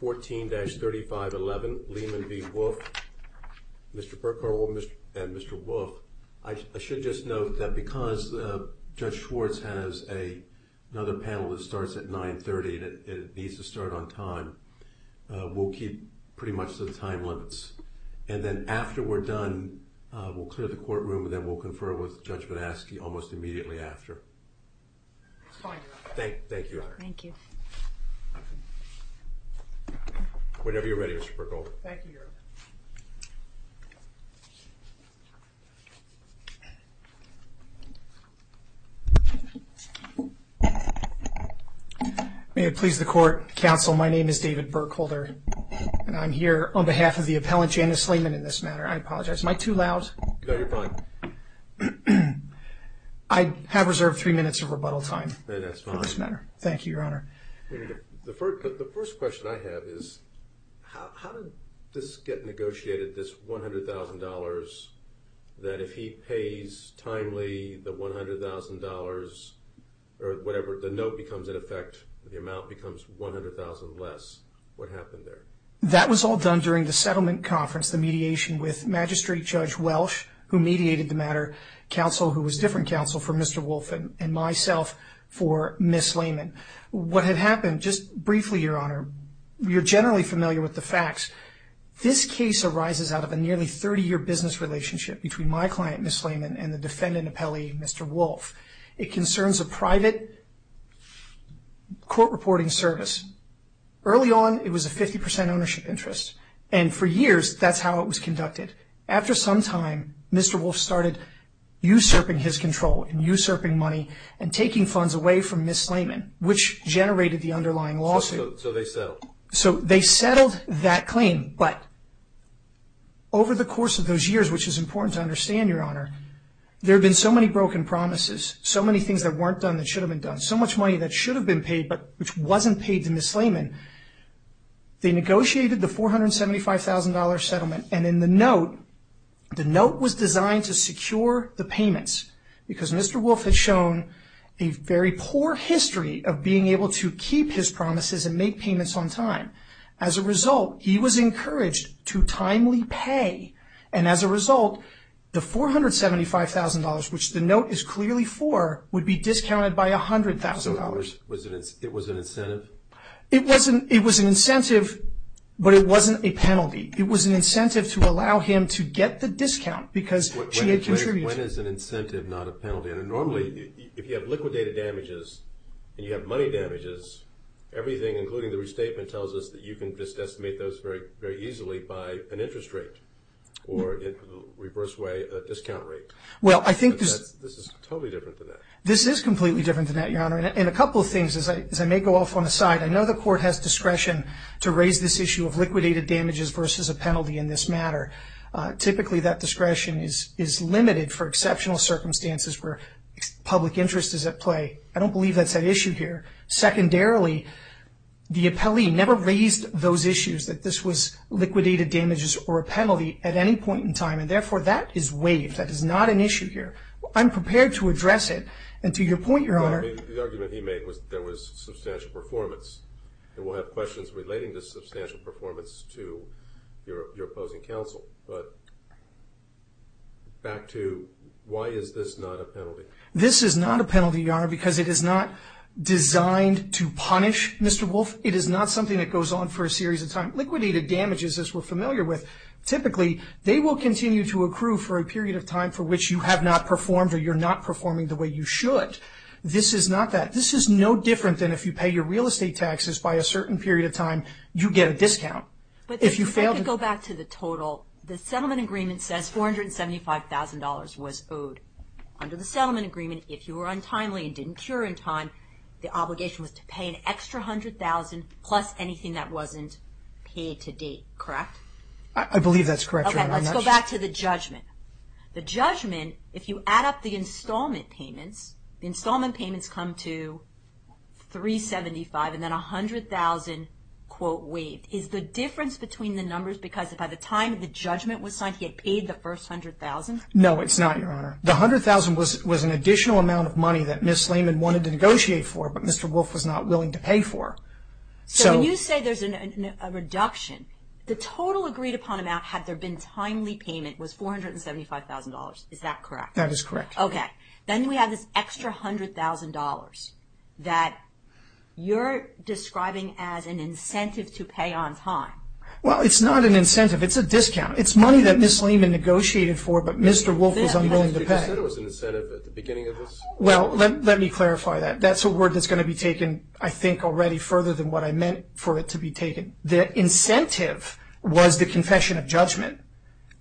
14-3511 Leaman v. Wolfe. Mr. Bercow and Mr. Wolfe, I should just note that because Judge Schwartz has another panel that starts at 930 and it needs to start on time, we'll keep pretty much the time limits. And then after we're done, we'll clear the courtroom and we'll confer with Judge Banaski almost immediately after. Thank you. Thank you. Whenever you're ready, Mr. Bercow. Thank you, Your Honor. May it please the court, counsel, my name is David Bercow and I'm here on behalf of the appellant Janice Leaman in this matter. I apologize, am I too loud? No, you're fine. I have reserved three minutes of rebuttal time for this matter. Thank you, Your Honor. The first question I have is how did this get negotiated, this $100,000 that if he pays timely the $100,000 or whatever, the note becomes in effect, the amount becomes $100,000 less. What happened there? That was all done during the settlement conference, the mediation with Magistrate Judge Welsh, who mediated the matter, counsel who was different counsel for Mr. Wolfe and myself for Ms. Leaman. What had happened, just briefly, Your Honor, you're generally familiar with the facts. This case arises out of a nearly 30-year business relationship between my client, Ms. Leaman, and the defendant appellee, Mr. Wolfe. It concerns a private court reporting service. Early on, it was a 50% ownership interest. For years, that's how it was conducted. After some time, Mr. Wolfe started usurping his control and usurping money and taking funds away from Ms. Leaman, which generated the underlying lawsuit. They settled. They settled that claim, but over the course of those years, which is important to understand, Your Honor, there have been so many broken promises, so many things that weren't done that should have been done, so they negotiated the $475,000 settlement. In the note, the note was designed to secure the payments because Mr. Wolfe had shown a very poor history of being able to keep his promises and make payments on time. As a result, he was encouraged to timely pay. As a result, the $475,000, which the note is clearly for, would be discounted by $100,000. It was an incentive? It was an incentive, but it wasn't a penalty. It was an incentive to allow him to get the discount because she had contributed. When is an incentive not a penalty? Normally, if you have liquidated damages and you have money damages, everything, including the restatement, tells us that you can just estimate those very easily by an interest rate or, in a reverse way, a discount rate. This is totally different than that. This is completely different than that, and a couple of things, as I may go off on a side. I know the court has discretion to raise this issue of liquidated damages versus a penalty in this matter. Typically, that discretion is limited for exceptional circumstances where public interest is at play. I don't believe that's an issue here. Secondarily, the appellee never raised those issues that this was liquidated damages or a penalty at any point in time, and therefore, that is waived. That is not an issue here. I'm prepared to address it, and to your point, Your Honor. The argument he made was there was substantial performance, and we'll have questions relating to substantial performance to your opposing counsel, but back to why is this not a penalty? This is not a penalty, Your Honor, because it is not designed to punish Mr. Wolf. It is not something that goes on for a series of time. Liquidated damages, as we're familiar with, typically, they will continue to you have not performed or you're not performing the way you should. This is not that. This is no different than if you pay your real estate taxes by a certain period of time, you get a discount. But if you fail to go back to the total, the settlement agreement says $475,000 was owed. Under the settlement agreement, if you were untimely and didn't cure in time, the obligation was to pay an extra $100,000 plus anything that wasn't paid to date, correct? I believe that's correct. Let's go back to the judgment. The judgment, if you add up the installment payments, the installment payments come to $375,000 and then $100,000 waived. Is the difference between the numbers because by the time the judgment was signed, he had paid the first $100,000? No, it's not, Your Honor. The $100,000 was an additional amount of money that Ms. Lehman wanted to negotiate for, but Mr. Wolf was not willing to pay for. So when you say there's a reduction, the total agreed upon amount had there been timely payment was $475,000. Is that correct? That is correct. Okay. Then we have this extra $100,000 that you're describing as an incentive to pay on time. Well, it's not an incentive. It's a discount. It's money that Ms. Lehman negotiated for, but Mr. Wolf was unwilling to pay. You just said it was an incentive at the beginning of this. Well, let me clarify that. That's a word that's going to be taken, I think, already further than what I meant for it to be taken. The incentive was the confession of judgment.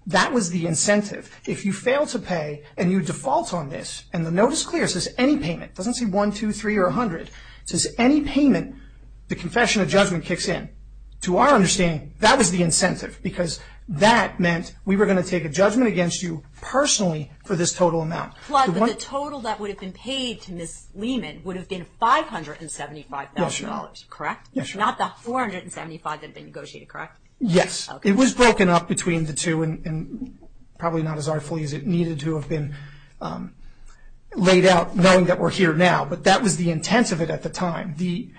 That was the incentive. If you fail to pay and you default on this, and the note is clear, it says any payment. It doesn't say one, two, three, or 100. It says any payment, the confession of judgment kicks in. To our understanding, that was the incentive because that meant we were going to take a judgment against you personally for this total amount. Plug, but the total that would have been paid to Ms. Lehman would have been $575,000, correct? Not the $475,000 that had been negotiated, correct? Yes. It was broken up between the two and probably not as artfully as it needed to have been laid out knowing that we're here now, but that was the intent of it at the time. When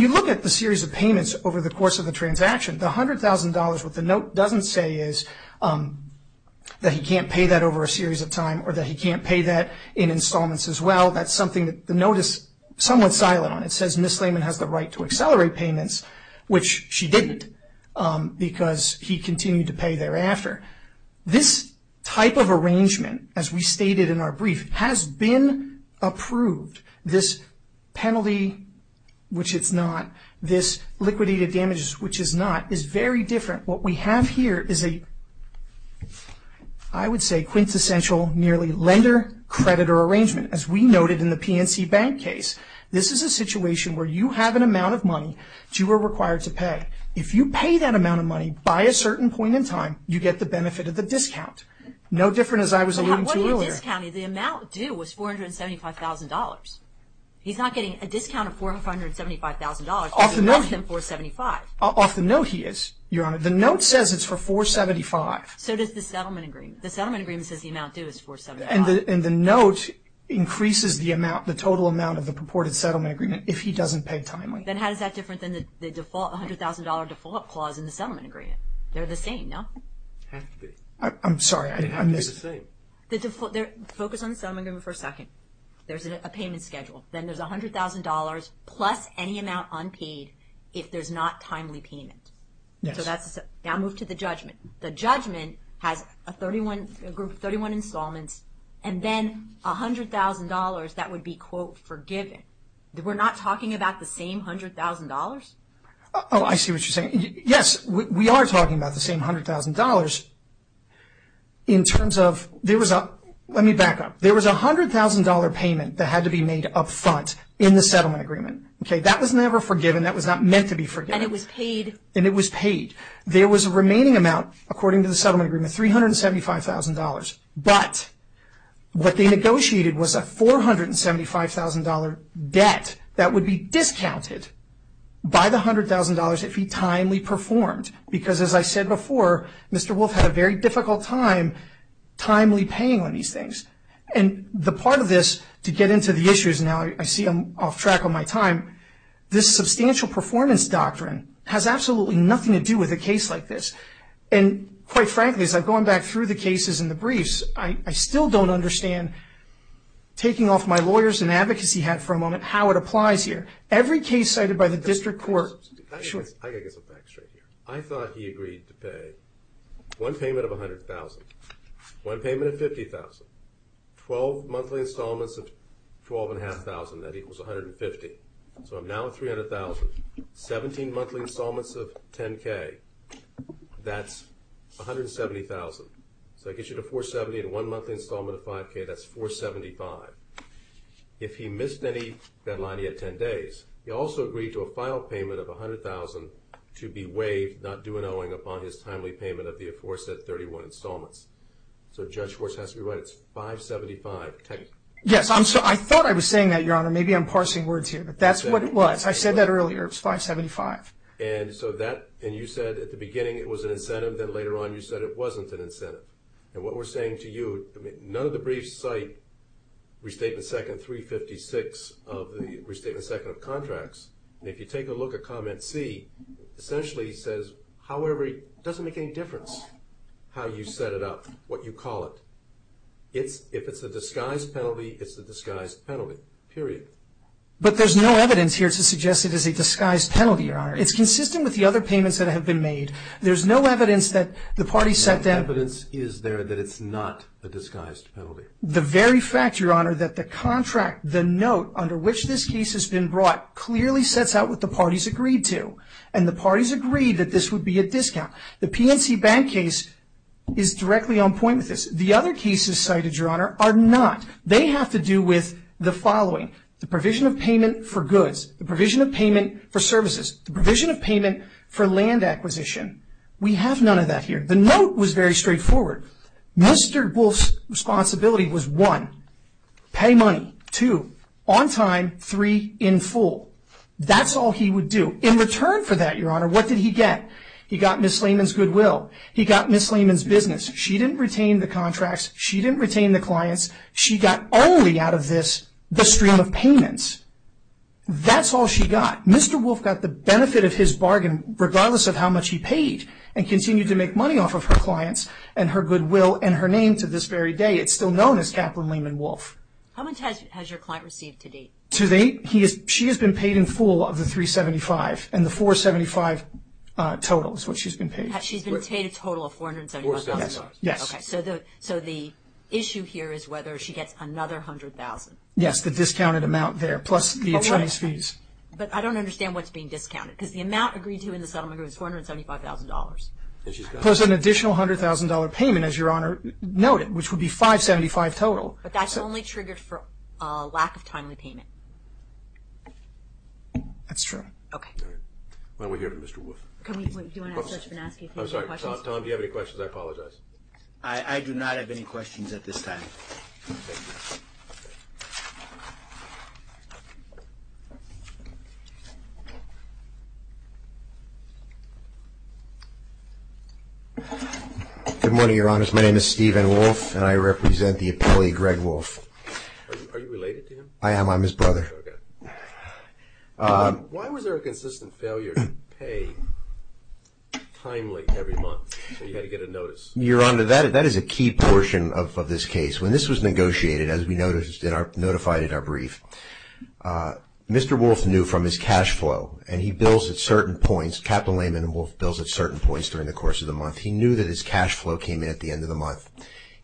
you look at the series of payments over the course of the transaction, the $100,000, what the note doesn't say is that he can't pay that over a series of time, or that he can't pay that in installments as well. That's something that the note is somewhat silent on. It says Ms. Lehman has the right to accelerate payments, which she didn't because he continued to pay thereafter. This type of arrangement, as we stated in our brief, has been approved. This penalty, which it's not, this liquidity to damages, which it's not, is very different. What we have here is a, I would say, quintessential lender-creditor arrangement, as we noted in the PNC Bank case. This is a situation where you have an amount of money that you are required to pay. If you pay that amount of money by a certain point in time, you get the benefit of the discount. No different as I was alluding to earlier. What are you discounting? The amount due was $475,000. He's not getting a discount of $475,000. Off the note, he is, Your Honor. The note says it's for $475,000. So does the settlement agreement. The settlement agreement says the amount due is $475,000. And the note increases the total amount of the purported settlement agreement if he doesn't pay timely. Then how is that different than the $100,000 default clause in the settlement agreement? They're the same, no? They have to be. I'm sorry. They have to be the same. Focus on the settlement agreement for a second. There's a payment schedule. Then there's $100,000 plus any amount unpaid if there's not timely payment. Yes. Now move to the judgment. The judgment has a group of 31 installments and then $100,000 that would be, quote, forgiven. We're not talking about the same $100,000? Oh, I see what you're saying. Yes, we are talking about the same $100,000. Let me back up. There was a $100,000 payment that had to be made up front in the settlement agreement. That was never forgiven. That was not meant to be forgiven. There was a remaining amount, according to the settlement agreement, $375,000. But what they negotiated was a $475,000 debt that would be discounted by the $100,000 if he timely performed. Because as I said before, Mr. Wolf had a very difficult time timely paying on these things. And the part of this, to get into the issues, now I see I'm off track on my time, this substantial performance doctrine has absolutely nothing to do with a case like this. And quite frankly, as I've gone back through the cases in the briefs, I still don't understand, taking off my lawyers and advocacy hat for a moment, how it applies here. Every case cited by the district court- I guess I'll back straight here. I thought he agreed to pay one payment of $100,000, one payment of $50,000, 12 monthly installments of $12,500, that equals $150,000. So I'm now at $300,000, 17 monthly installments of $10,000, that's $170,000. So that gets you to $470,000 and one monthly installment of $5,000, that's $475,000. If he missed any deadline, he had 10 days. He also agreed to a final payment of $100,000 to be waived, not due an owing, upon his timely payment of the aforesaid 31 installments. So Judge Schwartz has to be right, it's $575,000 technically. Yes, I thought I was saying that, Your Honor. Maybe I'm parsing words here, but that's what it was. I said that earlier, it was $575,000. And so that, and you said at the beginning it was an incentive, then later on you said it wasn't an incentive. And what we're saying to you, none of the briefs cite Restatement Second 356 of the Restatement Second of Contracts. And if you take a look at Comment C, essentially it says, however, it doesn't make any difference how you set it up, what you call it. If it's a disguise penalty, it's a disguised penalty, period. But there's no evidence here to suggest it is a disguised penalty, Your Honor. It's consistent with the other payments that have been made. There's no evidence that the parties set down- No evidence is there that it's not a disguised penalty. The very fact, Your Honor, that the contract, the note under which this case has been brought, clearly sets out what the parties agreed to. And the parties agreed that this would be a discount. The PNC Bank case is directly on point with this. The other cases cited, Your Honor, are not. They have to do with the following. The provision of payment for goods. The provision of payment for services. The provision of payment for land acquisition. We have none of that here. The note was very straightforward. Mr. Wolf's responsibility was, one, pay money. Two, on time. Three, in full. That's all he would do. In return for that, Your Honor, what did he get? He got Ms. Lehman's goodwill. He got Ms. Lehman's business. She didn't retain the contracts. She didn't retain the clients. She got only, out of this, the stream of payments. That's all she got. Mr. Wolf got the benefit of his bargain, regardless of how much he paid, and continued to make money off of her clients and her goodwill and her name to this very day. It's still known as Kaplan, Lehman, Wolf. How much has your client received to date? To date, she has been paid in full of the $375,000. And the $475,000 total is what she's been paid. She's been paid a total of $475,000? Yes. Okay, so the issue here is whether she gets another $100,000. Yes, the discounted amount there, plus the attorney's fees. But I don't understand what's being discounted, because the amount agreed to in the settlement agreement is $475,000. Plus an additional $100,000 payment, as Your Honor noted, which would be $575,000 total. But that's only triggered for a lack of timely payment. That's true. Okay. Why don't we hear from Mr. Wolf? I'm sorry, Tom, do you have any questions? I apologize. I do not have any questions at this time. Good morning, Your Honor. My name is Stephen Wolf, and I represent the appellee Greg Wolf. Are you related to him? I am. I'm his brother. Okay. Why was there a consistent failure to pay timely every month, so you had to get a notice? Your Honor, that is a key portion of this case. When this was negotiated, as we notified in our brief, Mr. Wolf knew from his cash flow, and he bills at certain points. Captain Layman and Wolf bills at certain points during the course of the month. He knew that his cash flow came in at the end of the month.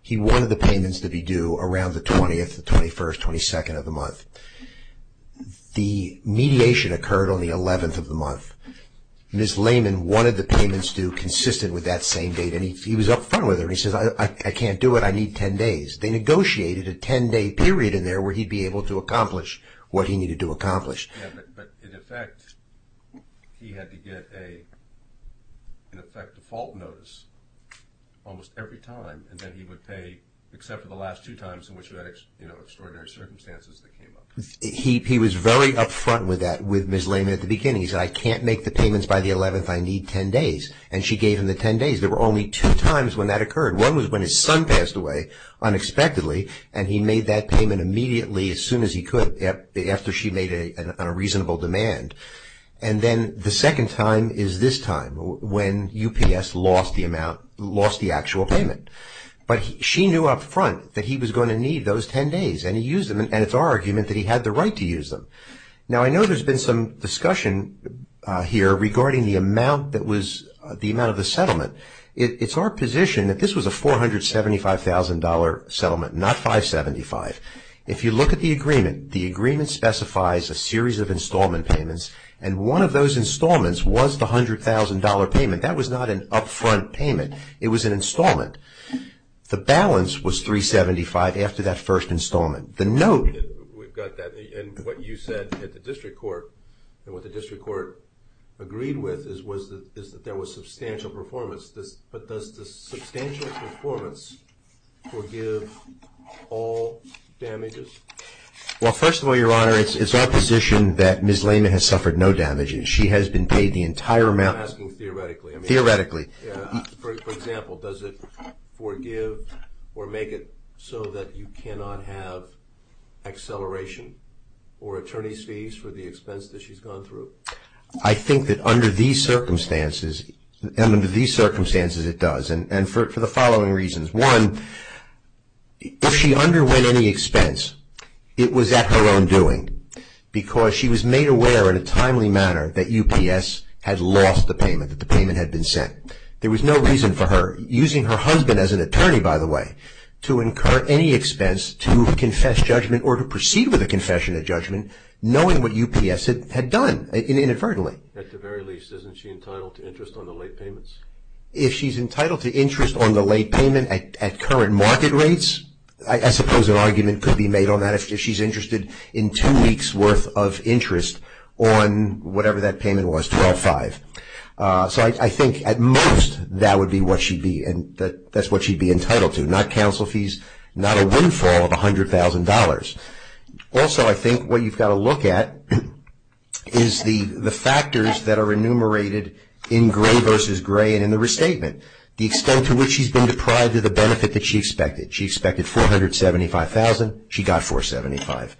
He wanted the payments to be due around the 20th, the 21st, 22nd of the month. The mediation occurred on the 11th of the month. Ms. Layman wanted the payments due consistent with that same date, and he was up front with her. He says, I can't do it. I need 10 days. They negotiated a 10-day period in there where he'd be able to accomplish what he needed to accomplish. Yeah, but in effect, he had to get an effective fault notice almost every time, and then he would pay, except for the last two times in which he had extraordinary circumstances that came up. He was very up front with Ms. Layman at the beginning. He said, I can't make the payments by the 11th. I need 10 days, and she gave him the 10 days. There were only two times when that occurred. One was when his son passed away unexpectedly, and he made that payment immediately as soon as he could after she made a reasonable demand, and then the second time is this time when UPS lost the actual payment, but she knew up front that he was going to need those 10 days, and he used them, and it's our argument that he had the right to use them. Now, I know there's been some discussion here regarding the amount of the settlement. It's our position that this was a $475,000 settlement, not 575. If you look at the agreement, the agreement specifies a series of installment payments, and one of those installments was the $100,000 payment. That was not an up front payment. It was an installment. The balance was $375,000 after that first installment. The note... We've got that, and what you said at the district court, and what the district court agreed with is that there was substantial performance, but does the substantial performance forgive all damages? Well, first of all, Your Honor, it's our position that Ms. Layman has For example, does it forgive or make it so that you cannot have acceleration or attorney's fees for the expense that she's gone through? I think that under these circumstances, and under these circumstances it does, and for the following reasons. One, if she underwent any expense, it was at her own doing, because she was made aware in a timely manner that UPS had lost the payment, that the payment had been sent. There was no reason for her, using her husband as an attorney, by the way, to incur any expense to confess judgment or to proceed with a confession of judgment, knowing what UPS had done inadvertently. At the very least, isn't she entitled to interest on the late payments? If she's entitled to interest on the late payment at current market rates, I suppose an argument could be made on that if she's interested in two weeks' worth of interest on whatever that payment was, 12-5. So I think at most that's what she'd be entitled to, not counsel fees, not a windfall of $100,000. Also, I think what you've got to look at is the factors that are enumerated in Gray v. Gray and in the restatement, the extent to which she's been deprived of the she got $475,000.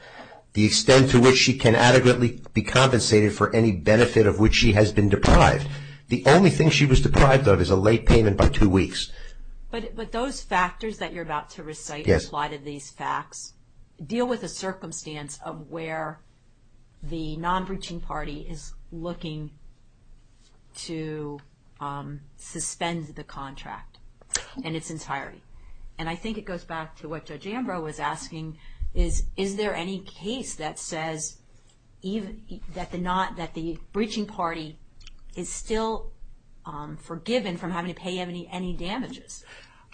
The extent to which she can adequately be compensated for any benefit of which she has been deprived. The only thing she was deprived of is a late payment by two weeks. But those factors that you're about to recite, apply to these facts, deal with a circumstance of where the non-breaching party is looking to suspend the contract in its entirety. And I think it goes back to what Judge Ambrose was asking, is there any case that says that the breaching party is still forgiven from having to pay any damages?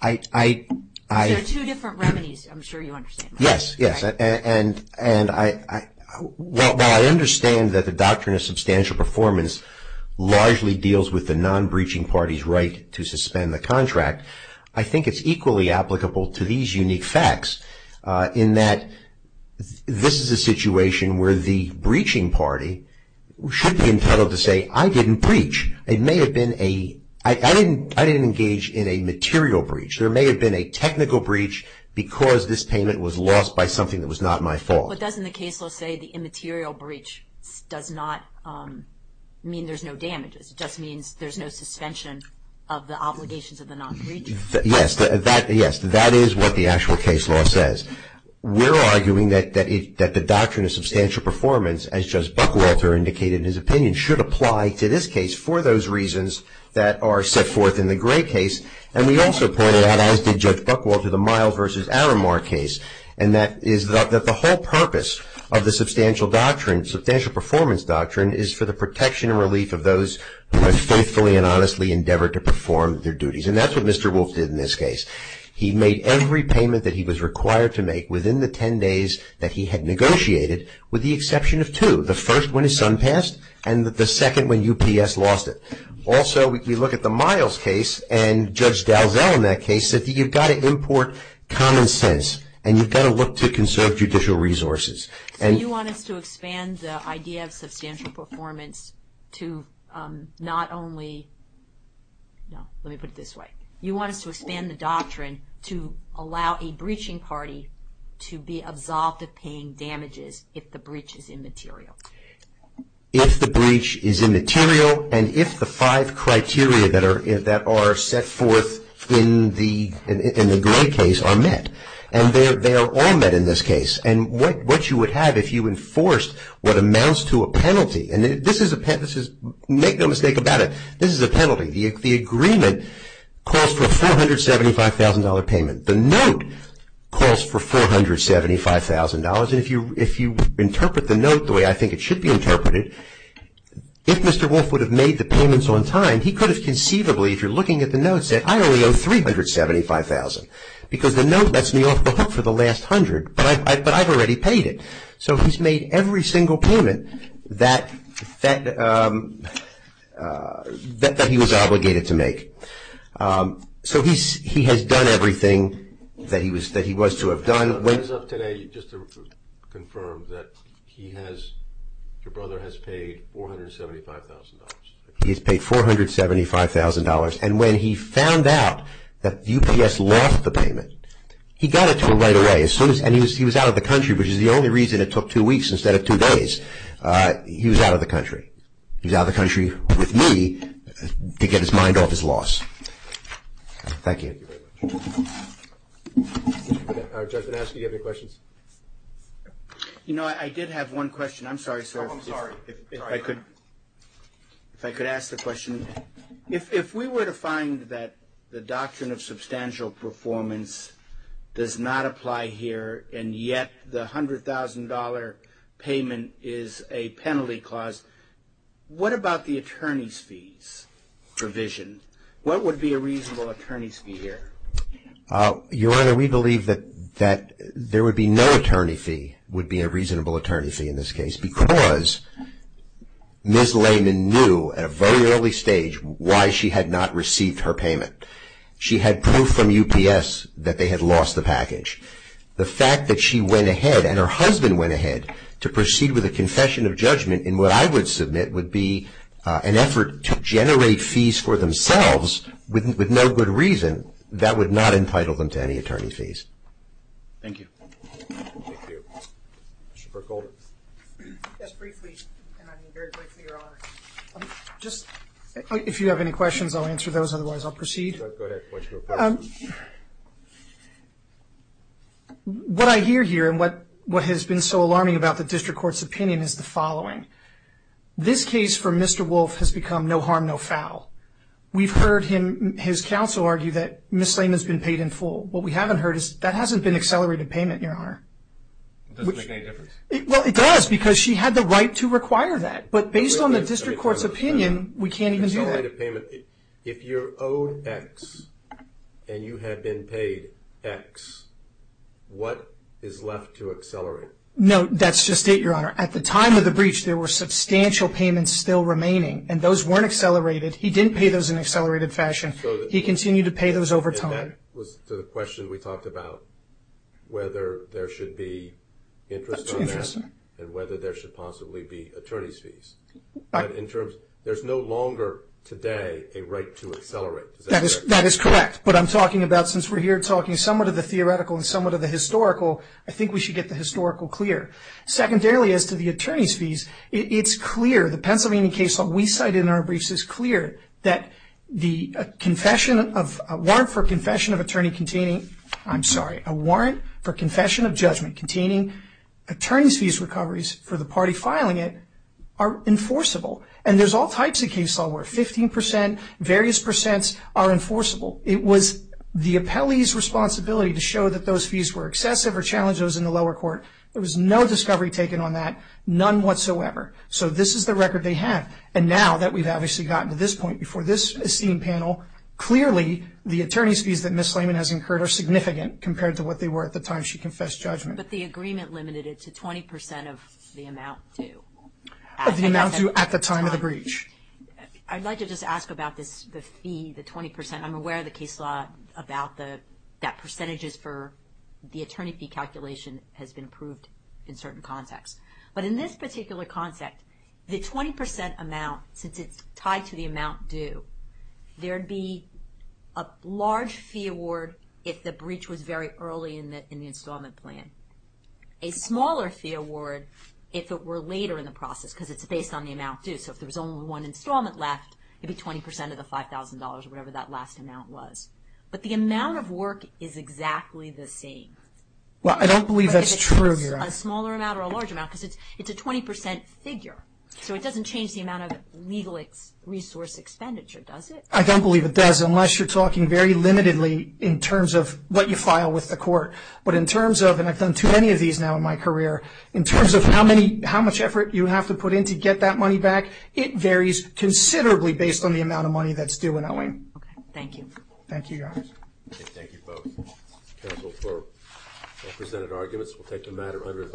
There are two different remedies, I'm sure you understand. Yes, yes. And while I understand that the doctrine of substantial performance largely deals with the non-breaching party's right to suspend the contract, I think it's equally applicable to these unique facts in that this is a situation where the breaching party should be entitled to say, I didn't breach. I didn't engage in a material breach. There may have been a technical breach because this payment was lost by something that was not my fault. But doesn't the case say the immaterial breach does not mean there's no damages? It just means there's no suspension of the obligations of the non-breacher? Yes, that is what the actual case law says. We're arguing that the doctrine of substantial performance, as Judge Buckwalter indicated in his opinion, should apply to this case for those reasons that are set forth in the Gray case. And we also pointed out, as did Judge Buckwalter, the Miles v. Aramar case, and that is that the whole purpose of the substantial performance doctrine is for the protection and relief of those who have faithfully and honestly endeavored to perform their duties. And that's what Mr. Wolf did in this case. He made every payment that he was required to make within the 10 days that he had negotiated, with the exception of two. The first when his son passed, and the second when UPS lost it. Also, we look at the Miles case, and Judge Dalzell in that case said that you've got to import common sense, and you've got to look to conserve judicial resources. So you want us to expand the idea of substantial performance to not only, no, let me put it this way. You want us to expand the doctrine to allow a breaching party to be absolved of paying damages if the breach is immaterial? If the breach is immaterial, and if the five criteria that are set forth in the Gray case are met. And they are all met in this case. And what you would have if you enforced what amounts to a penalty, and this is a penalty, make no mistake about it, this is a penalty. The agreement calls for a $475,000 payment. The note calls for $475,000, and if you interpret the note the way I think it should be interpreted, if Mr. Wolf would have made the payments on time, he could have conceivably, if you're looking at the note, said I only owe $375,000, because the note lets me off the hook for the last hundred, but I've already paid it. So he's made every single payment that he was obligated to make. So he has done everything that he was to have done. It ends up today, just to confirm, that he has, your brother has paid $475,000. He has paid $475,000, and when he found out that UPS lost the payment, he got it to him right away. And he was out of the country, which is the only reason it took two weeks instead of two days. He was out of the country. He was out of the country with me to get his mind off his loss. If we were to find that the Doctrine of Substantial Performance does not apply here, and yet the $100,000 payment is a penalty clause, what about the attorney's fees provision? What would be a reasonable attorney's fee here? Your Honor, we believe that there would be no attorney fee would be a reasonable attorney fee in this case, because Ms. Lehman knew at a very early stage why she had not received her payment. She had proof from UPS that they had lost the package. The fact that she went ahead, and her husband went ahead, to proceed with a confession of judgment in what I would submit would be an effort to generate fees for themselves with no good reason. That would not entitle them to any attorney fees. Thank you. If you have any questions, I'll answer those. Otherwise, I'll proceed. What I hear here, and what has been so alarming about the district court's opinion is the following. This case for Mr. Wolf has become no harm, no foul. We've heard his counsel argue that Ms. Lehman's been paid in full. What we haven't heard is that hasn't been accelerated payment, Your Honor. It doesn't make any difference. Well, it does, because she had the right to require that. But based on the district court's opinion, we can't even do that. If you're owed X, and you have been paid X, what is left to accelerate? No, that's just it, Your Honor. At the time of the breach, there were substantial payments still remaining, and those weren't accelerated. He didn't pay those in an accelerated fashion. He continued to pay those over time. And that was to the question we talked about, whether there should be interest on that, and whether there should possibly be attorney's fees. In terms, there's no longer today a right to accelerate. That is correct. But I'm talking about, since we're here talking somewhat of the theoretical and somewhat of the historical, I think we should get the historical clear. Secondarily, as to the attorney's fees, it's clear, the Pennsylvania case law we cited in our briefs is clear, that the confession of, a warrant for confession of attorney containing, I'm sorry, a warrant for confession of judgment containing attorney's fees recoveries for the party filing it are enforceable. And there's all types of case law where 15%, various percents are enforceable. It was the appellee's responsibility to show that those fees were excessive or challenge those in the lower court. There was no discovery taken on that, none whatsoever. So this is the record they have. And now that we've obviously gotten to this point before this esteemed panel, clearly the attorney's fees that Ms. Slayman has incurred are significant compared to what they were at the time she confessed judgment. But the agreement limited it to 20% of the amount due. Of the amount due at the time of the breach. I'd like to just ask about this, the fee, the 20%. I'm aware of the case law about that percentages for the attorney fee calculation has been approved in certain contexts. But in this particular concept, the 20% amount, since it's tied to the amount due, there'd be a large fee award if the breach was very early in the installment plan. A smaller fee award if it were later in the process because it's based on the amount due. So if there was only one installment left, it'd be 20% of the $5,000 or whatever that last amount was. But the amount of work is exactly the same. Well, I don't believe that's true here. A smaller amount or a large amount because it's a 20% figure. So it doesn't change the amount of legal resource expenditure, does it? I don't believe it does unless you're talking very limitedly in terms of what you file with the court. But in terms of, and I've done too many of these now in my career, in terms of how much effort you have to put in to get that money back, it varies considerably based on the amount of money that's due and owing. Okay. Thank you. Thank you, Your Honor. Thank you both. Counsel, for presented arguments, we'll take the matter under advice.